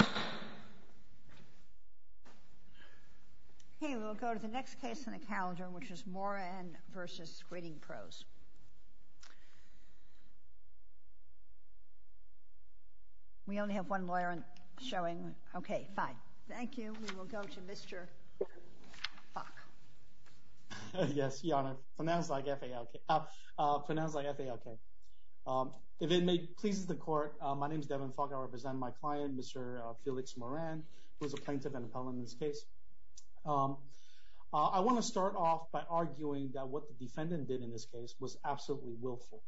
Okay, we'll go to the next case in the calendar, which is Moran v. Screening Pros. We only have one lawyer showing. Okay, fine. Thank you. We will go to Mr. Falk. Yes, Your Honor, pronounced like F-A-L-K, pronounced like F-A-L-K. If it pleases the court, my name is Devin Falk. I represent my client, Mr. Felix Moran, who is a plaintiff and appellant in this case. I want to start off by arguing that what the defendant did in this case was absolutely willful.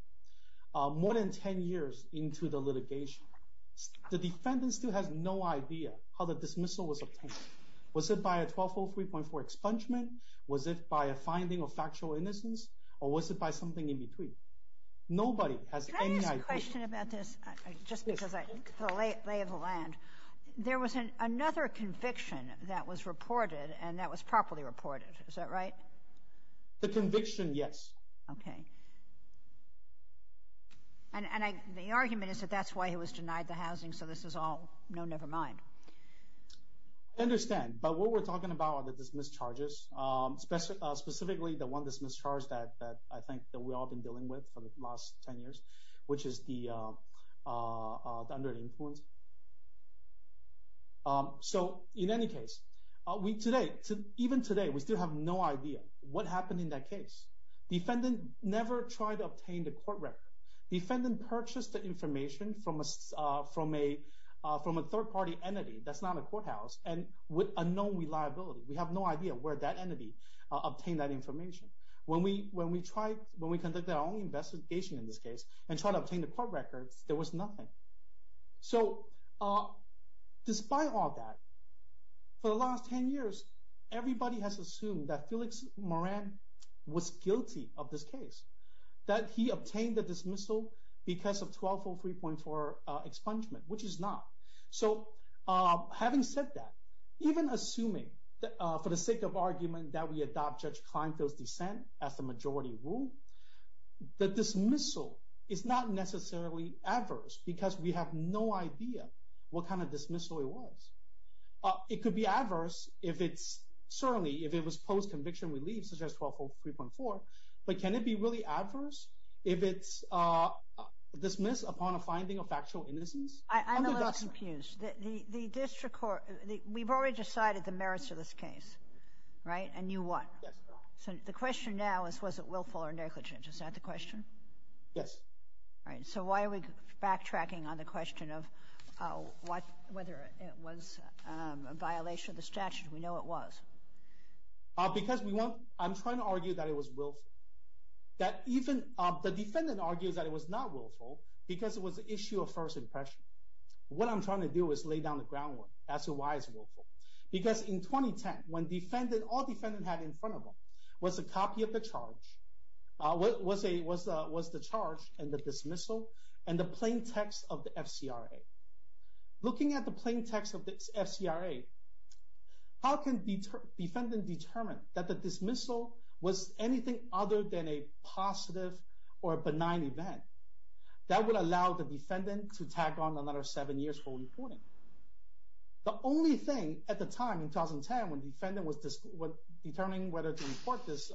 More than 10 years into the litigation, the defendant still has no idea how the dismissal was obtained. Was it by a 1203.4 expungement? Was it by a finding of factual innocence? Or was it by something in between? Nobody has any idea. Can I ask a question about this, just because of the lay of the land? There was another conviction that was reported, and that was properly reported. Is that right? The conviction, yes. Okay. And the argument is that that's why he was denied the housing, so this is all, no, never mind. I understand, but what we're talking about are the dismissed charges, specifically the one dismissed charge that I think that we've all been dealing with for the last 10 years, which is the under influence. So, in any case, even today, we still have no idea what happened in that case. The defendant never tried to obtain the court record. The defendant purchased the information from a third party entity that's not a courthouse and with unknown reliability. We have no idea where that entity obtained that information. When we conducted our own investigation in this case and tried to obtain the court records, there was nothing. So, despite all that, for the last 10 years, everybody has assumed that Felix Moran was guilty of this case, that he obtained the dismissal because of 1203.4 expungement, which is not. So, having said that, even assuming, for the sake of argument, that we adopt Judge Kleinfeld's dissent as the majority rule, the dismissal is not necessarily adverse because we have no idea what kind of dismissal it was. It could be adverse if it's, certainly, if it was post-conviction relief, such as 1203.4, but can it be really adverse if it's dismissed upon a finding of factual innocence? I'm a little confused. We've already decided the merits of this case, right? And you what? Yes. So, the question now is, was it willful or negligent? Is that the question? Yes. All right. So, why are we backtracking on the question of whether it was a violation of the statute? We know it was. Because I'm trying to argue that it was willful. The defendant argues that it was not willful because it was an issue of first impression. What I'm trying to do is lay down the groundwork as to why it's willful. Because in 2010, when all the defendants had in front of them was a copy of the charge, was the charge and the dismissal and the plain text of the FCRA. Looking at the plain text of the FCRA, how can the defendant determine that the dismissal was anything other than a positive or benign event? That would allow the defendant to tag on another seven years for reporting. The only thing at the time, in 2010, when the defendant was determining whether to report this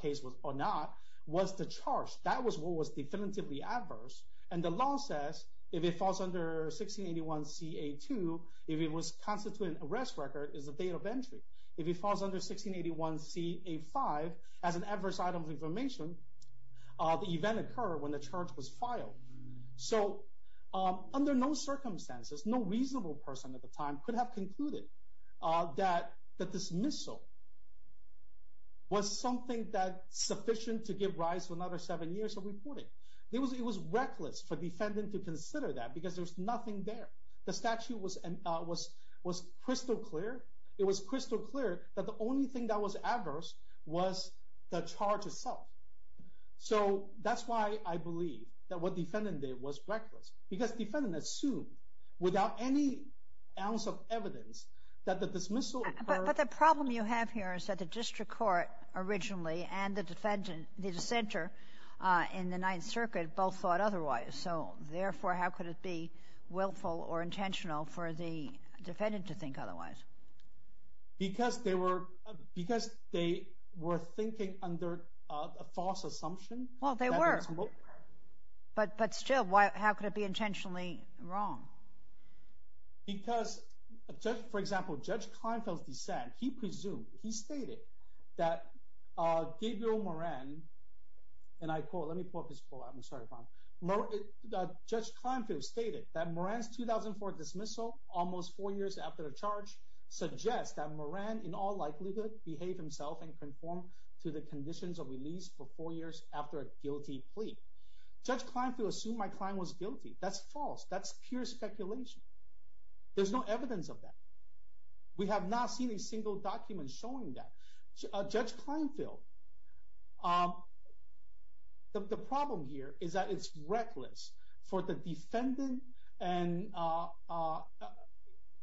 case or not, was the charge. That was what was definitively adverse. And the law says, if it falls under 1681 CA2, if it was constituted an arrest record, it's a date of entry. If it falls under 1681 CA5, as an adverse item of information, the event occurred when the charge was filed. So, under no circumstances, no reasonable person at the time could have concluded that the dismissal was something sufficient to give rise to another seven years of reporting. It was reckless for the defendant to consider that because there's nothing there. The statute was crystal clear. It was crystal clear that the only thing that was adverse was the charge itself. So, that's why I believe that what the defendant did was reckless. Because the defendant assumed, without any ounce of evidence, that the dismissal occurred... But the problem you have here is that the district court, originally, and the defendant, the dissenter, in the Ninth Circuit, both thought otherwise. So, therefore, how could it be willful or intentional for the defendant to think otherwise? Because they were thinking under a false assumption. Well, they were. But still, how could it be intentionally wrong? Because, for example, Judge Kleinfeld's dissent, he presumed, he stated that Gabriel Moran, and I quote, let me pull up his quote, I'm sorry, Bob. Judge Kleinfeld stated that Moran's 2004 dismissal, almost four years after the charge, suggests that Moran, in all likelihood, behaved himself and conformed to the conditions of release for four years after a guilty plea. Judge Kleinfeld assumed my client was guilty. That's false. That's pure speculation. There's no evidence of that. We have not seen a single document showing that. Judge Kleinfeld, the problem here is that it's reckless for the defendant, and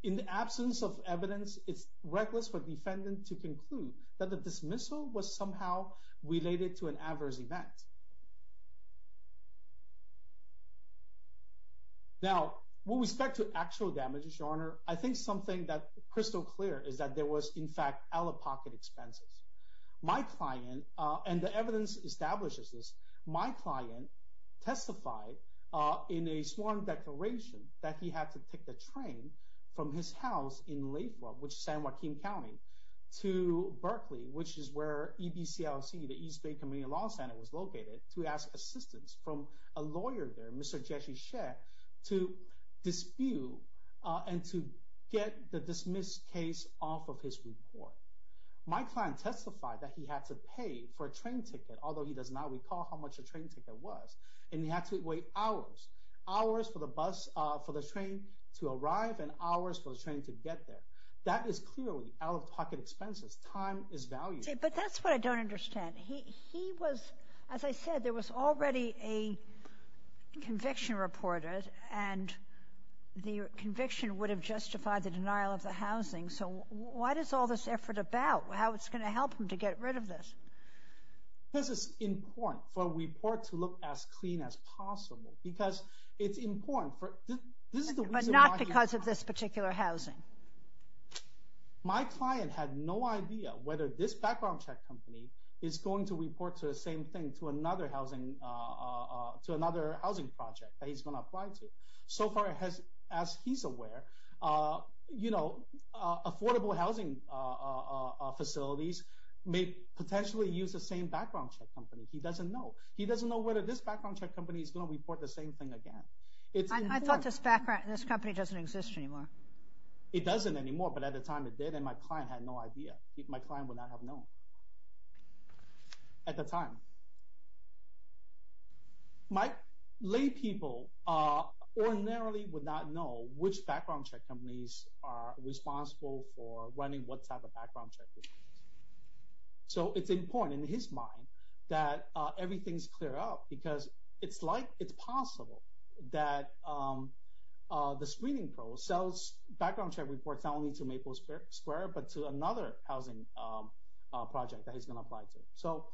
in the absence of evidence, it's reckless for the defendant to conclude that the dismissal was somehow related to an adverse event. Now, with respect to actual damages, Your Honor, I think something that's crystal clear is that there was, in fact, out-of-pocket expenses. My client, and the evidence establishes this, my client testified in a sworn declaration that he had to take the train from his house in Lathrop, which is San Joaquin County, to Berkeley, which is where EBCLC, the East Bay Community Law Center, was located, to ask assistance from a lawyer there, Mr. Jesse Shea, to dispute and to get the dismissed case off of his report. My client testified that he had to pay for a train ticket, although he does not recall how much a train ticket was, and he had to wait hours, hours for the train to arrive and hours for the train to get there. That is clearly out-of-pocket expenses. Time is value. But that's what I don't understand. He was, as I said, there was already a conviction reported, and the conviction would have justified the denial of the housing. So what is all this effort about? How is it going to help him to get rid of this? This is important for a report to look as clean as possible because it's important. But not because of this particular housing? My client had no idea whether this background check company is going to report the same thing to another housing project that he's going to apply to. So far, as he's aware, affordable housing facilities may potentially use the same background check company. He doesn't know. He doesn't know whether this background check company is going to report the same thing again. I thought this company doesn't exist anymore. It doesn't anymore, but at the time it did, and my client had no idea. My client would not have known at the time. My laypeople ordinarily would not know which background check companies are responsible for running what type of background check. So it's important in his mind that everything's clear up because it's possible that the screening pro sells background check reports not only to Maple Square, but to another housing project that he's going to apply to. So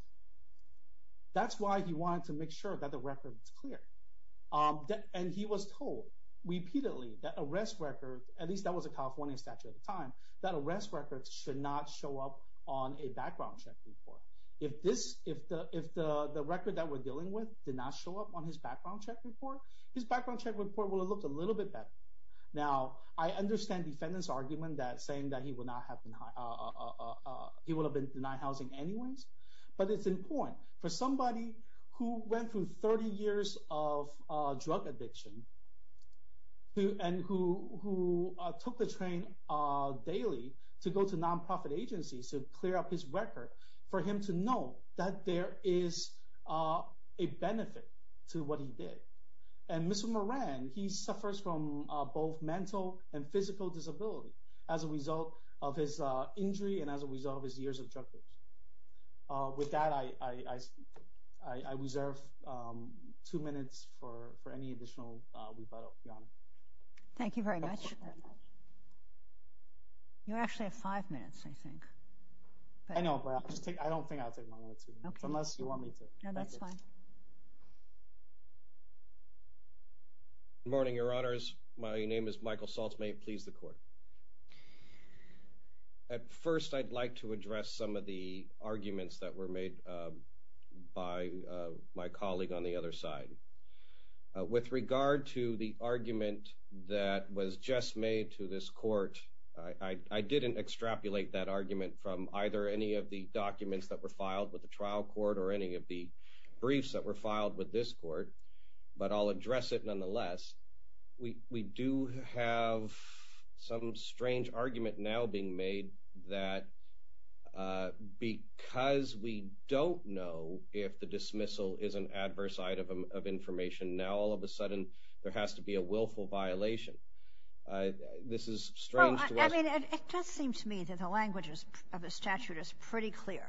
that's why he wanted to make sure that the record was clear. And he was told repeatedly that arrest records, at least that was a California statute at the time, that arrest records should not show up on a background check report. If the record that we're dealing with did not show up on his background check report, his background check report would have looked a little bit better. Now, I understand the defendant's argument that saying that he would have been denied housing anyways. But it's important for somebody who went through 30 years of drug addiction and who took the train daily to go to nonprofit agencies to clear up his record for him to know that there is a benefit to what he did. And Mr. Moran, he suffers from both mental and physical disability as a result of his injury and as a result of his years of drug abuse. With that, I reserve two minutes for any additional rebuttal, Your Honor. Thank you very much. You actually have five minutes, I think. I know, but I don't think I'll take more than two minutes, unless you want me to. No, that's fine. Good morning, Your Honors. My name is Michael Saltz. May it please the Court. At first, I'd like to address some of the arguments that were made by my colleague on the other side. With regard to the argument that was just made to this Court, I didn't extrapolate that argument from either any of the documents that were filed with the trial court or any of the briefs that were filed with this court. But I'll address it nonetheless. We do have some strange argument now being made that because we don't know if the dismissal is an adverse item of information, now all of a sudden there has to be a willful violation. This is strange to us. Well, I mean, it does seem to me that the language of the statute is pretty clear.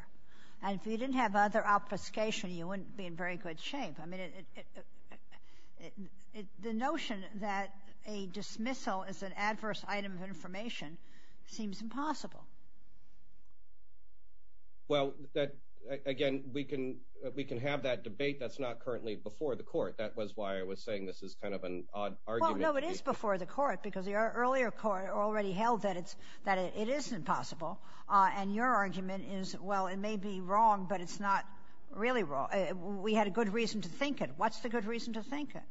And if you didn't have other obfuscation, you wouldn't be in very good shape. I mean, the notion that a dismissal is an adverse item of information seems impossible. Well, again, we can have that debate. That's not currently before the Court. That was why I was saying this is kind of an odd argument. Well, no, it is before the Court, because the earlier Court already held that it is impossible. And your argument is, well, it may be wrong, but it's not really wrong. We had a good reason to think it. What's the good reason to think it?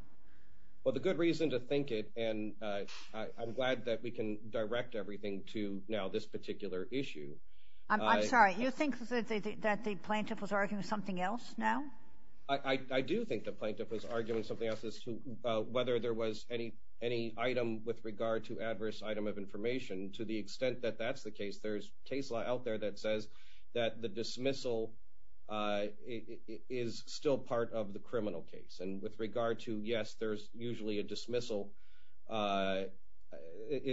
Well, the good reason to think it, and I'm glad that we can direct everything to now this particular issue. I'm sorry. You think that the plaintiff was arguing something else now? I do think the plaintiff was arguing something else as to whether there was any item with regard to adverse item of information. To the extent that that's the case, there's case law out there that says that the dismissal is still part of the criminal case. And with regard to, yes, there's usually a dismissal, as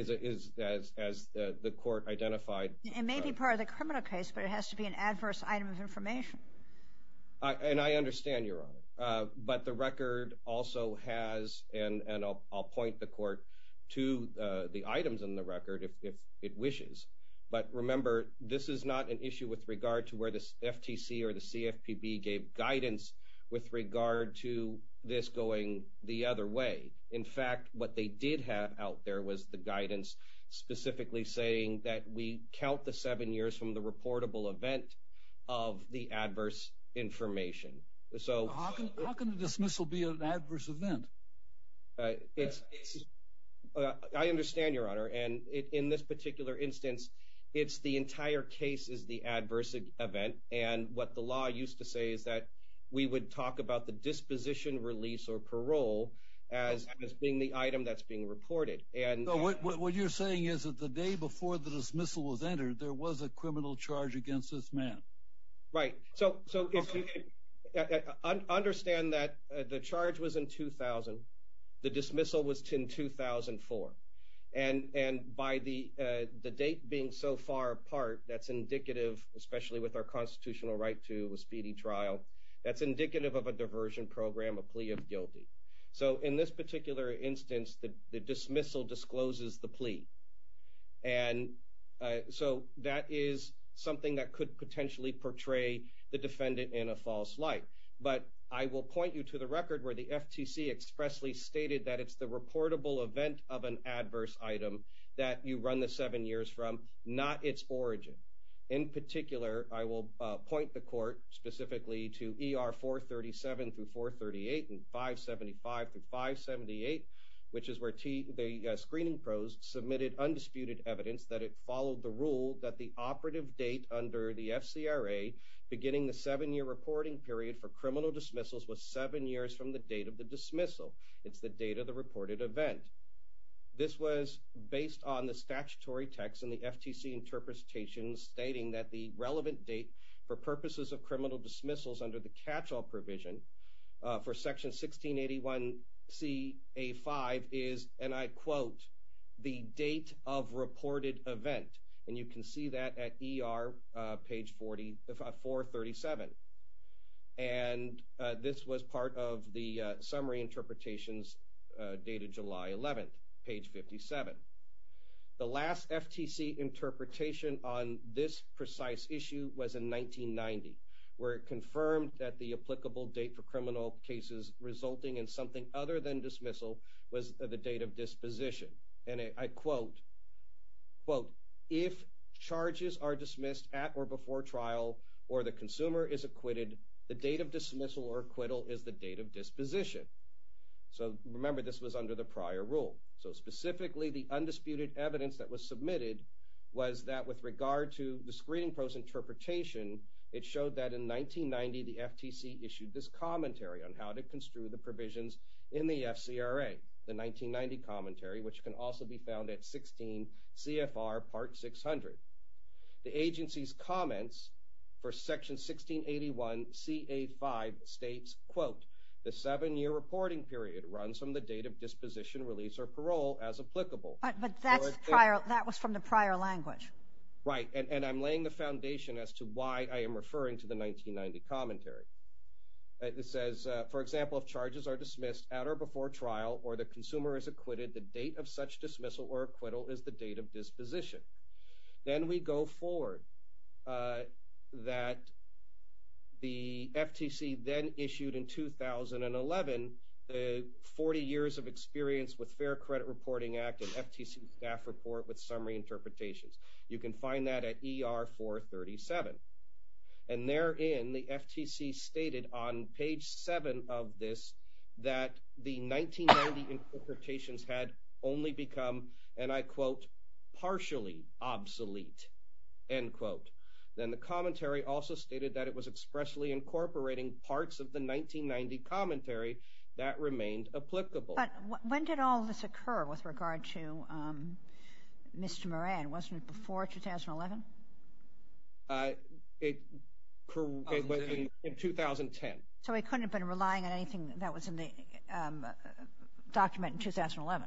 the Court identified. It may be part of the criminal case, but it has to be an adverse item of information. And I understand, Your Honor. But the record also has, and I'll point the Court to the items in the record if it wishes. But remember, this is not an issue with regard to where the FTC or the CFPB gave guidance with regard to this going the other way. In fact, what they did have out there was the guidance specifically saying that we count the seven years from the reportable event of the adverse information. How can a dismissal be an adverse event? I understand, Your Honor. And in this particular instance, the entire case is the adverse event. And what the law used to say is that we would talk about the disposition, release, or parole as being the item that's being reported. What you're saying is that the day before the dismissal was entered, there was a criminal charge against this man. Right. So understand that the charge was in 2000. The dismissal was in 2004. And by the date being so far apart, that's indicative, especially with our constitutional right to a speedy trial, that's indicative of a diversion program, a plea of guilty. So in this particular instance, the dismissal discloses the plea. And so that is something that could potentially portray the defendant in a false light. But I will point you to the record where the FTC expressly stated that it's the reportable event of an adverse item that you run the seven years from, not its origin. In particular, I will point the court specifically to ER 437-438 and 575-578, which is where the screening pros submitted undisputed evidence that it followed the rule that the operative date under the FCRA, beginning the seven-year reporting period for criminal dismissals, was seven years from the date of the dismissal. It's the date of the reported event. This was based on the statutory text in the FTC interpretations stating that the relevant date for purposes of criminal dismissals under the catch-all provision for Section 1681C-A-5 is, and I quote, the date of reported event. And you can see that at ER page 437. And this was part of the summary interpretations dated July 11th, page 57. The last FTC interpretation on this precise issue was in 1990, where it confirmed that the applicable date for criminal cases resulting in something other than dismissal was the date of disposition. And I quote, quote, if charges are dismissed at or before trial or the consumer is acquitted, the date of dismissal or acquittal is the date of disposition. So remember, this was under the prior rule. So specifically, the undisputed evidence that was submitted was that with regard to the screening post interpretation, it showed that in 1990, the FTC issued this commentary on how to construe the provisions in the FCRA, the 1990 commentary, which can also be found at 16 CFR Part 600. The agency's comments for Section 1681C-A-5 states, quote, the seven-year reporting period runs from the date of disposition release or parole as applicable. But that's prior. That was from the prior language. Right. And I'm laying the foundation as to why I am referring to the 1990 commentary. It says, for example, if charges are dismissed at or before trial or the consumer is acquitted, the date of such dismissal or acquittal is the date of disposition. Then we go forward that the FTC then issued in 2011 the 40 years of experience with Fair Credit Reporting Act and FTC staff report with summary interpretations. You can find that at ER-437. And therein, the FTC stated on page 7 of this that the 1990 interpretations had only become, and I quote, partially obsolete, end quote. Then the commentary also stated that it was expressly incorporating parts of the 1990 commentary that remained applicable. But when did all this occur with regard to Mr. Moran? Wasn't it before 2011? It was in 2010. So he couldn't have been relying on anything that was in the document in 2011.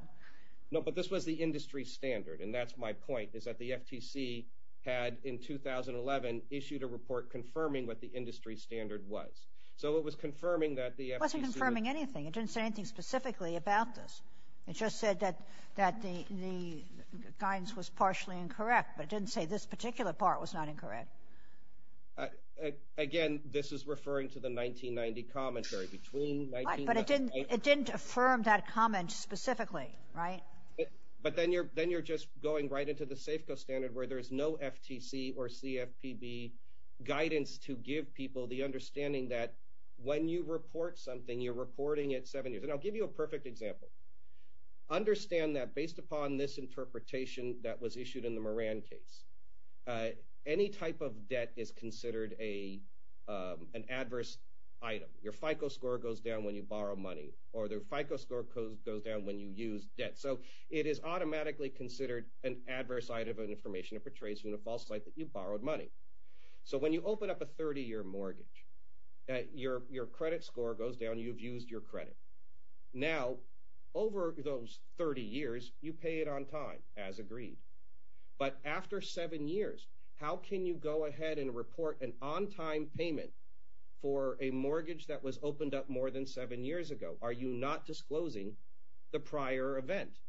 No, but this was the industry standard. And that's my point, is that the FTC had, in 2011, issued a report confirming what the industry standard was. So it was confirming that the FTC – It wasn't confirming anything. It didn't say anything specifically about this. It just said that the guidance was partially incorrect, but it didn't say this particular part was not incorrect. Again, this is referring to the 1990 commentary. But it didn't affirm that comment specifically, right? But then you're just going right into the SAFCO standard where there's no FTC or CFPB guidance to give people the understanding that when you report something, you're reporting it seven years. And I'll give you a perfect example. Understand that based upon this interpretation that was issued in the Moran case, any type of debt is considered an adverse item. Your FICO score goes down when you borrow money, or the FICO score goes down when you use debt. So it is automatically considered an adverse item of information. It portrays you in a false light that you borrowed money. So when you open up a 30-year mortgage, your credit score goes down. You've used your credit. Now, over those 30 years, you pay it on time, as agreed. But after seven years, how can you go ahead and report an on-time payment for a mortgage that was opened up more than seven years ago? Are you not disclosing the prior event?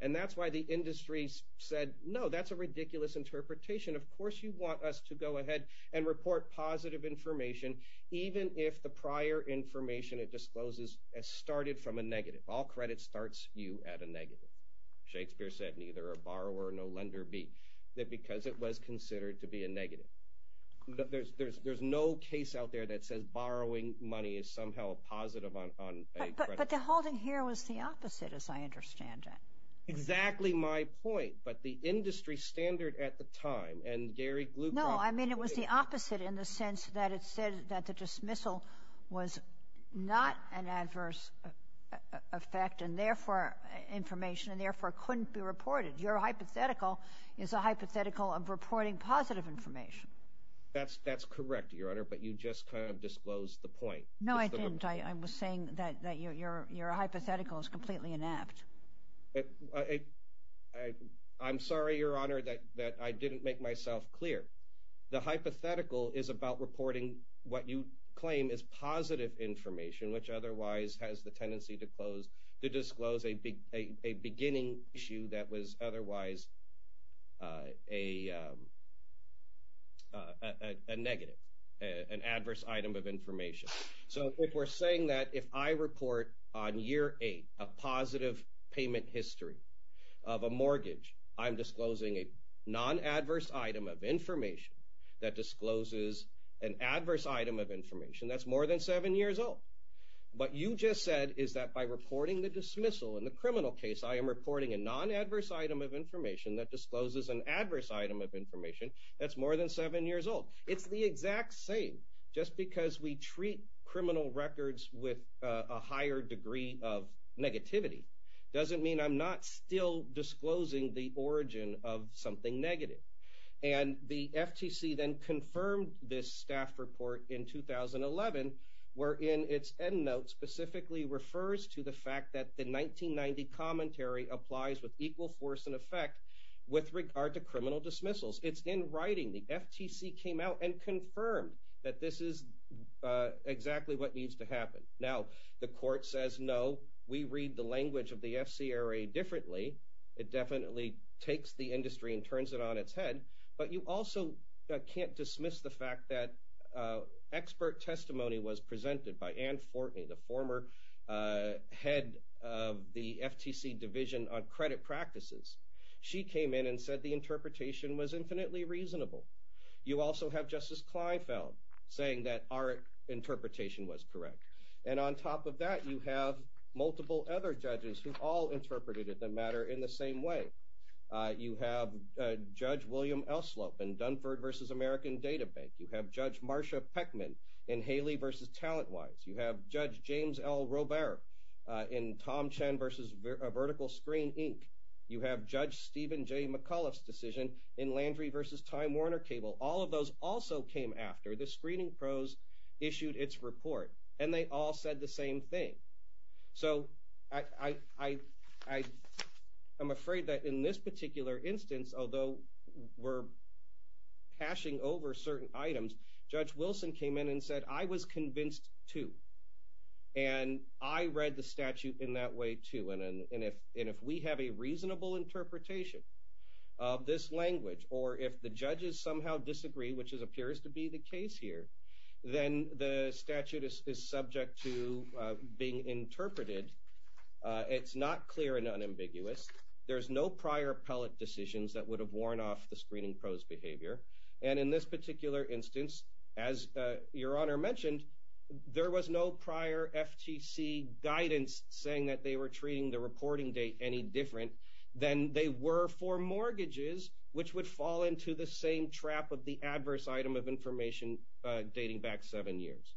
And that's why the industry said, no, that's a ridiculous interpretation. Of course you want us to go ahead and report positive information, even if the prior information it discloses has started from a negative. All credit starts you at a negative. Shakespeare said, neither a borrower nor lender be, that because it was considered to be a negative. There's no case out there that says borrowing money is somehow a positive on a credit. But the holding here was the opposite, as I understand it. Exactly my point. But the industry standard at the time, and Gary Gluck... No, I mean it was the opposite in the sense that it said that the dismissal was not an adverse effect, and therefore information, and therefore couldn't be reported. Your hypothetical is a hypothetical of reporting positive information. That's correct, Your Honor, but you just kind of disclosed the point. No, I didn't. I was saying that your hypothetical is completely inept. I'm sorry, Your Honor, that I didn't make myself clear. The hypothetical is about reporting what you claim is positive information, which otherwise has the tendency to disclose a beginning issue that was otherwise a negative, an adverse item of information. So if we're saying that if I report on year eight a positive payment history of a mortgage, I'm disclosing a non-adverse item of information that discloses an adverse item of information that's more than seven years old. What you just said is that by reporting the dismissal in the criminal case, I am reporting a non-adverse item of information that discloses an adverse item of information that's more than seven years old. It's the exact same. Just because we treat criminal records with a higher degree of negativity doesn't mean I'm not still disclosing the origin of something negative. And the FTC then confirmed this staff report in 2011, where in its end notes specifically refers to the fact that the 1990 commentary applies with equal force and effect with regard to criminal dismissals. It's in writing. The FTC came out and confirmed that this is exactly what needs to happen. Now, the court says, no, we read the language of the FCRA differently. It definitely takes the industry and turns it on its head. But you also can't dismiss the fact that expert testimony was presented by Ann Fortney, the former head of the FTC Division on Credit Practices. She came in and said the interpretation was infinitely reasonable. You also have Justice Kleinfeld saying that our interpretation was correct. And on top of that, you have multiple other judges who all interpreted the matter in the same way. You have Judge William Elslope in Dunford v. American Data Bank. You have Judge Marsha Peckman in Haley v. Talent Wise. You have Judge James L. Robert in Tom Chen v. Vertical Screen, Inc. You have Judge Stephen J. McAuliffe's decision in Landry v. Time Warner Cable. All of those also came after the screening pros issued its report, and they all said the same thing. So I'm afraid that in this particular instance, although we're cashing over certain items, Judge Wilson came in and said, I was convinced, too. And I read the statute in that way, too. And if we have a reasonable interpretation of this language or if the judges somehow disagree, which appears to be the case here, then the statute is subject to being interpreted. It's not clear and unambiguous. There's no prior appellate decisions that would have worn off the screening pros' behavior. And in this particular instance, as Your Honor mentioned, there was no prior FTC guidance saying that they were treating the reporting date any different than they were for mortgages, which would fall into the same trap of the adverse item of information dating back seven years.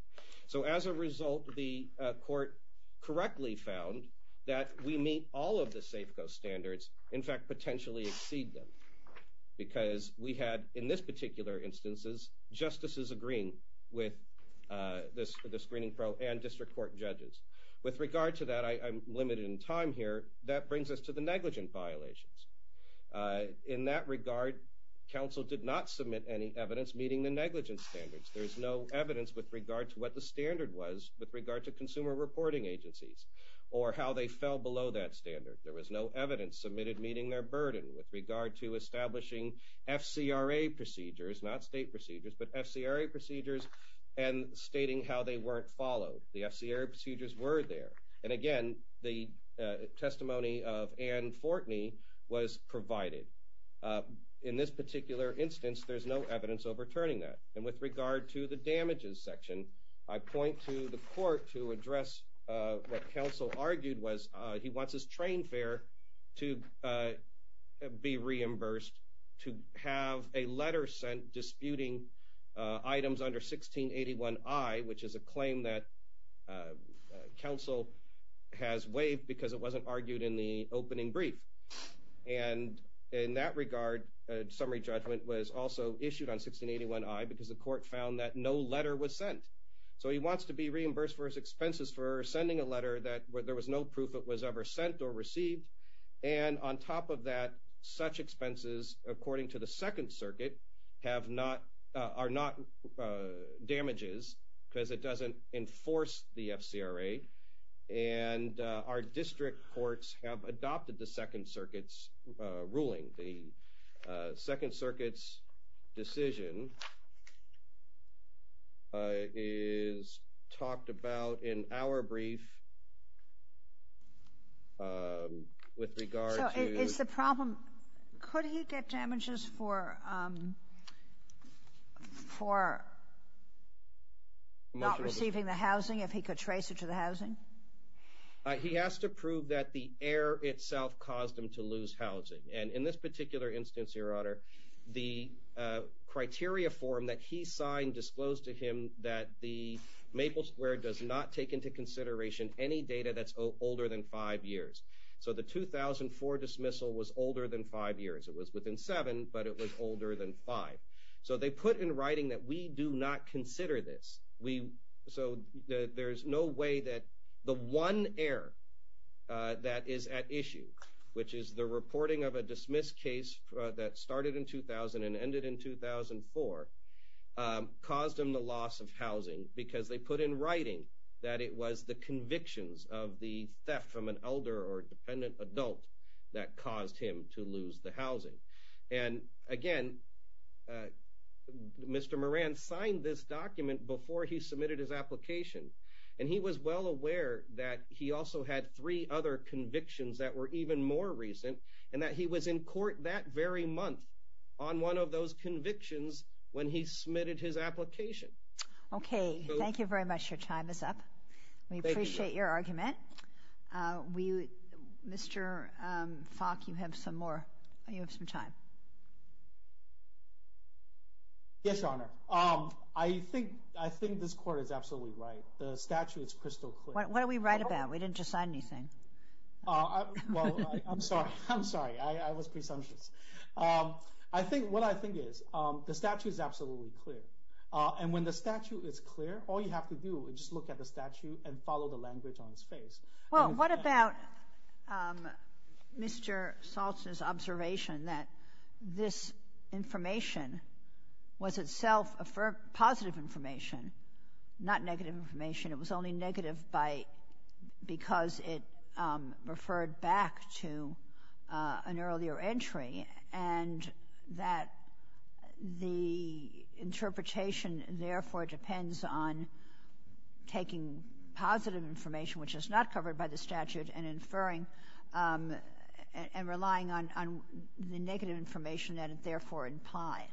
So as a result, the court correctly found that we meet all of the Safeco standards, in fact potentially exceed them, because we had, in this particular instance, justices agreeing with the screening pro and district court judges. With regard to that, I'm limited in time here. That brings us to the negligent violations. In that regard, counsel did not submit any evidence meeting the negligent standards. There is no evidence with regard to what the standard was with regard to consumer reporting agencies or how they fell below that standard. There was no evidence submitted meeting their burden with regard to establishing FCRA procedures, not state procedures, but FCRA procedures and stating how they weren't followed. The FCRA procedures were there. And again, the testimony of Ann Fortney was provided. In this particular instance, there's no evidence overturning that. And with regard to the damages section, I point to the court to address what counsel argued was he wants his train fare to be reimbursed, to have a letter sent disputing items under 1681I, which is a claim that counsel has waived because it wasn't argued in the opening brief. And in that regard, a summary judgment was also issued on 1681I because the court found that no letter was sent. So he wants to be reimbursed for his expenses for sending a letter that there was no proof it was ever sent or received. And on top of that, such expenses, according to the Second Circuit, are not damages because it doesn't enforce the FCRA. And our district courts have adopted the Second Circuit's ruling. The Second Circuit's decision is talked about in our brief with regard to ‑‑ He has to prove that the error itself caused him to lose housing. And in this particular instance, Your Honor, the criteria form that he signed disclosed to him that the Maple Square does not take into consideration any data that's older than five years. So the 2004 dismissal was older than five years. It was within seven, but it was older than five. So they put in writing that we do not consider this. So there's no way that the one error that is at issue, which is the reporting of a dismissed case that started in 2000 and ended in 2004, caused him the loss of housing because they put in writing that it was the convictions of the theft from an elder or dependent adult that caused him to lose the housing. And, again, Mr. Moran signed this document before he submitted his application. And he was well aware that he also had three other convictions that were even more recent and that he was in court that very month on one of those convictions when he submitted his application. Okay. Thank you very much. Your time is up. We appreciate your argument. Mr. Fock, you have some more. You have some time. Yes, Your Honor. I think this court is absolutely right. The statute is crystal clear. What are we right about? We didn't just sign anything. Well, I'm sorry. I'm sorry. I was presumptuous. What I think is the statute is absolutely clear. And when the statute is clear, all you have to do is just look at the statute and follow the language on its face. Well, what about Mr. Saltz's observation that this information was itself positive information, not negative information? It was only negative because it referred back to an earlier entry, and that the interpretation therefore depends on taking positive information, which is not covered by the statute, and inferring and relying on the negative information that it therefore implied?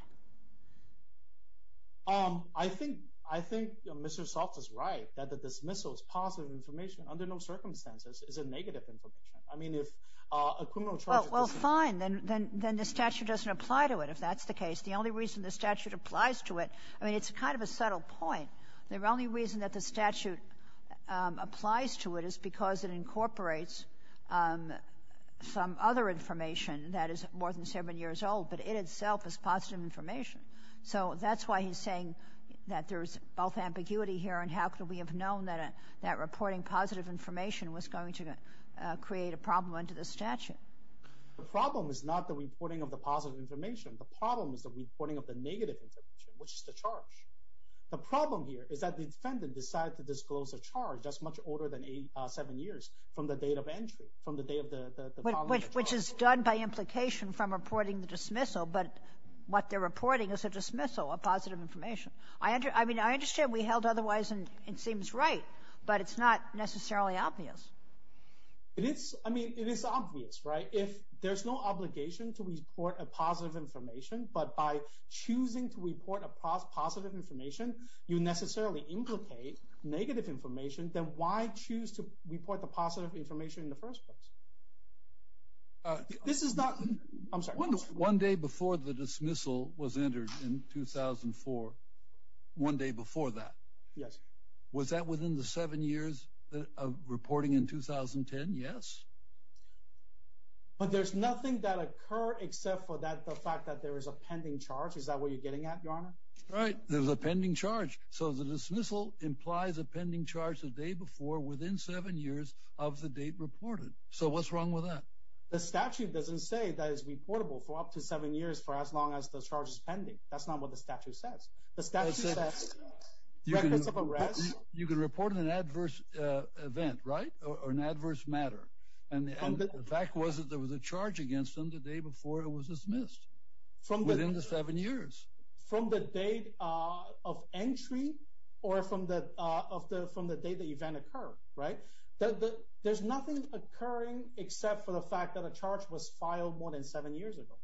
I think Mr. Saltz is right, that the dismissal is positive information under no circumstances. It's a negative information. I mean, if a criminal charge is considered. Well, fine. Then the statute doesn't apply to it, if that's the case. The only reason the statute applies to it, I mean, it's kind of a subtle point. The only reason that the statute applies to it is because it incorporates some other information that is more than seven years old, but it itself is positive information. So that's why he's saying that there's both ambiguity here, and how could we have known that reporting positive information was going to create a problem under the statute? The problem is not the reporting of the positive information. The problem is the reporting of the negative information, which is the charge. The problem here is that the defendant decided to disclose a charge that's much older than seven years from the date of entry, Which is done by implication from reporting the dismissal, but what they're reporting is a dismissal of positive information. I mean, I understand we held otherwise, and it seems right, but it's not necessarily obvious. I mean, it is obvious, right? If there's no obligation to report a positive information, but by choosing to report a positive information, you necessarily implicate negative information, then why choose to report the positive information in the first place? This is not... I'm sorry. One day before the dismissal was entered in 2004, one day before that. Yes. Was that within the seven years of reporting in 2010? Yes? But there's nothing that occurred except for the fact that there is a pending charge. Is that what you're getting at, Your Honor? Right. There's a pending charge. So the dismissal implies a pending charge the day before within seven years of the date reported. So what's wrong with that? The statute doesn't say that it's reportable for up to seven years for as long as the charge is pending. That's not what the statute says. The statute says records of arrest... You can report an adverse event, right, or an adverse matter. And the fact was that there was a charge against them the day before it was dismissed, within the seven years. From the date of entry or from the date the event occurred, right? There's nothing occurring except for the fact that a charge was filed more than seven years ago.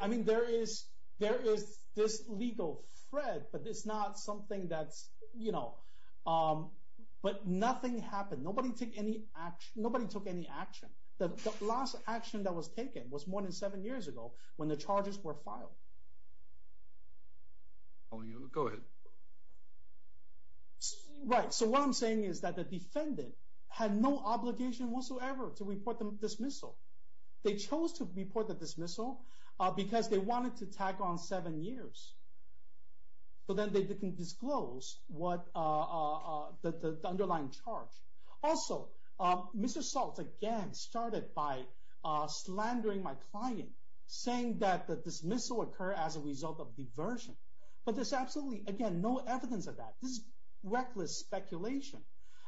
I mean, there is this legal thread, but it's not something that's, you know... But nothing happened. Nobody took any action. The last action that was taken was more than seven years ago when the charges were filed. Go ahead. Right. So what I'm saying is that the defendant had no obligation whatsoever to report the dismissal. They chose to report the dismissal because they wanted to tack on seven years. But then they didn't disclose the underlying charge. Also, Mr. Salt, again, started by slandering my client, saying that the dismissal occurred as a result of diversion. But there's absolutely, again, no evidence of that. This is reckless speculation.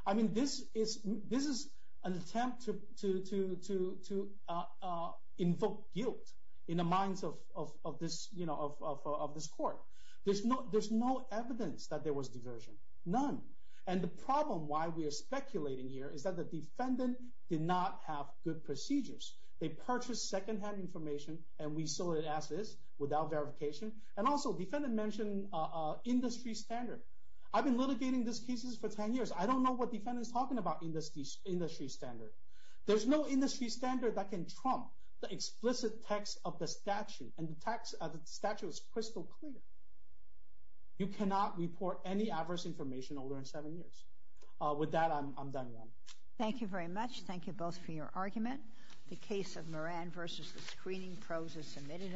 I mean, this is an attempt to invoke guilt in the minds of this court. There's no evidence that there was diversion. None. And the problem why we are speculating here is that the defendant did not have good procedures. They purchased second-hand information, and we saw it as is, without verification. And also, the defendant mentioned industry standard. I've been litigating these cases for 10 years. I don't know what the defendant is talking about, industry standard. There's no industry standard that can trump the explicit text of the statute. And the statute is crystal clear. You cannot report any adverse information older than seven years. With that, I'm done. Thank you very much. Thank you both for your argument. The case of Moran v. The Screening Pros is submitted.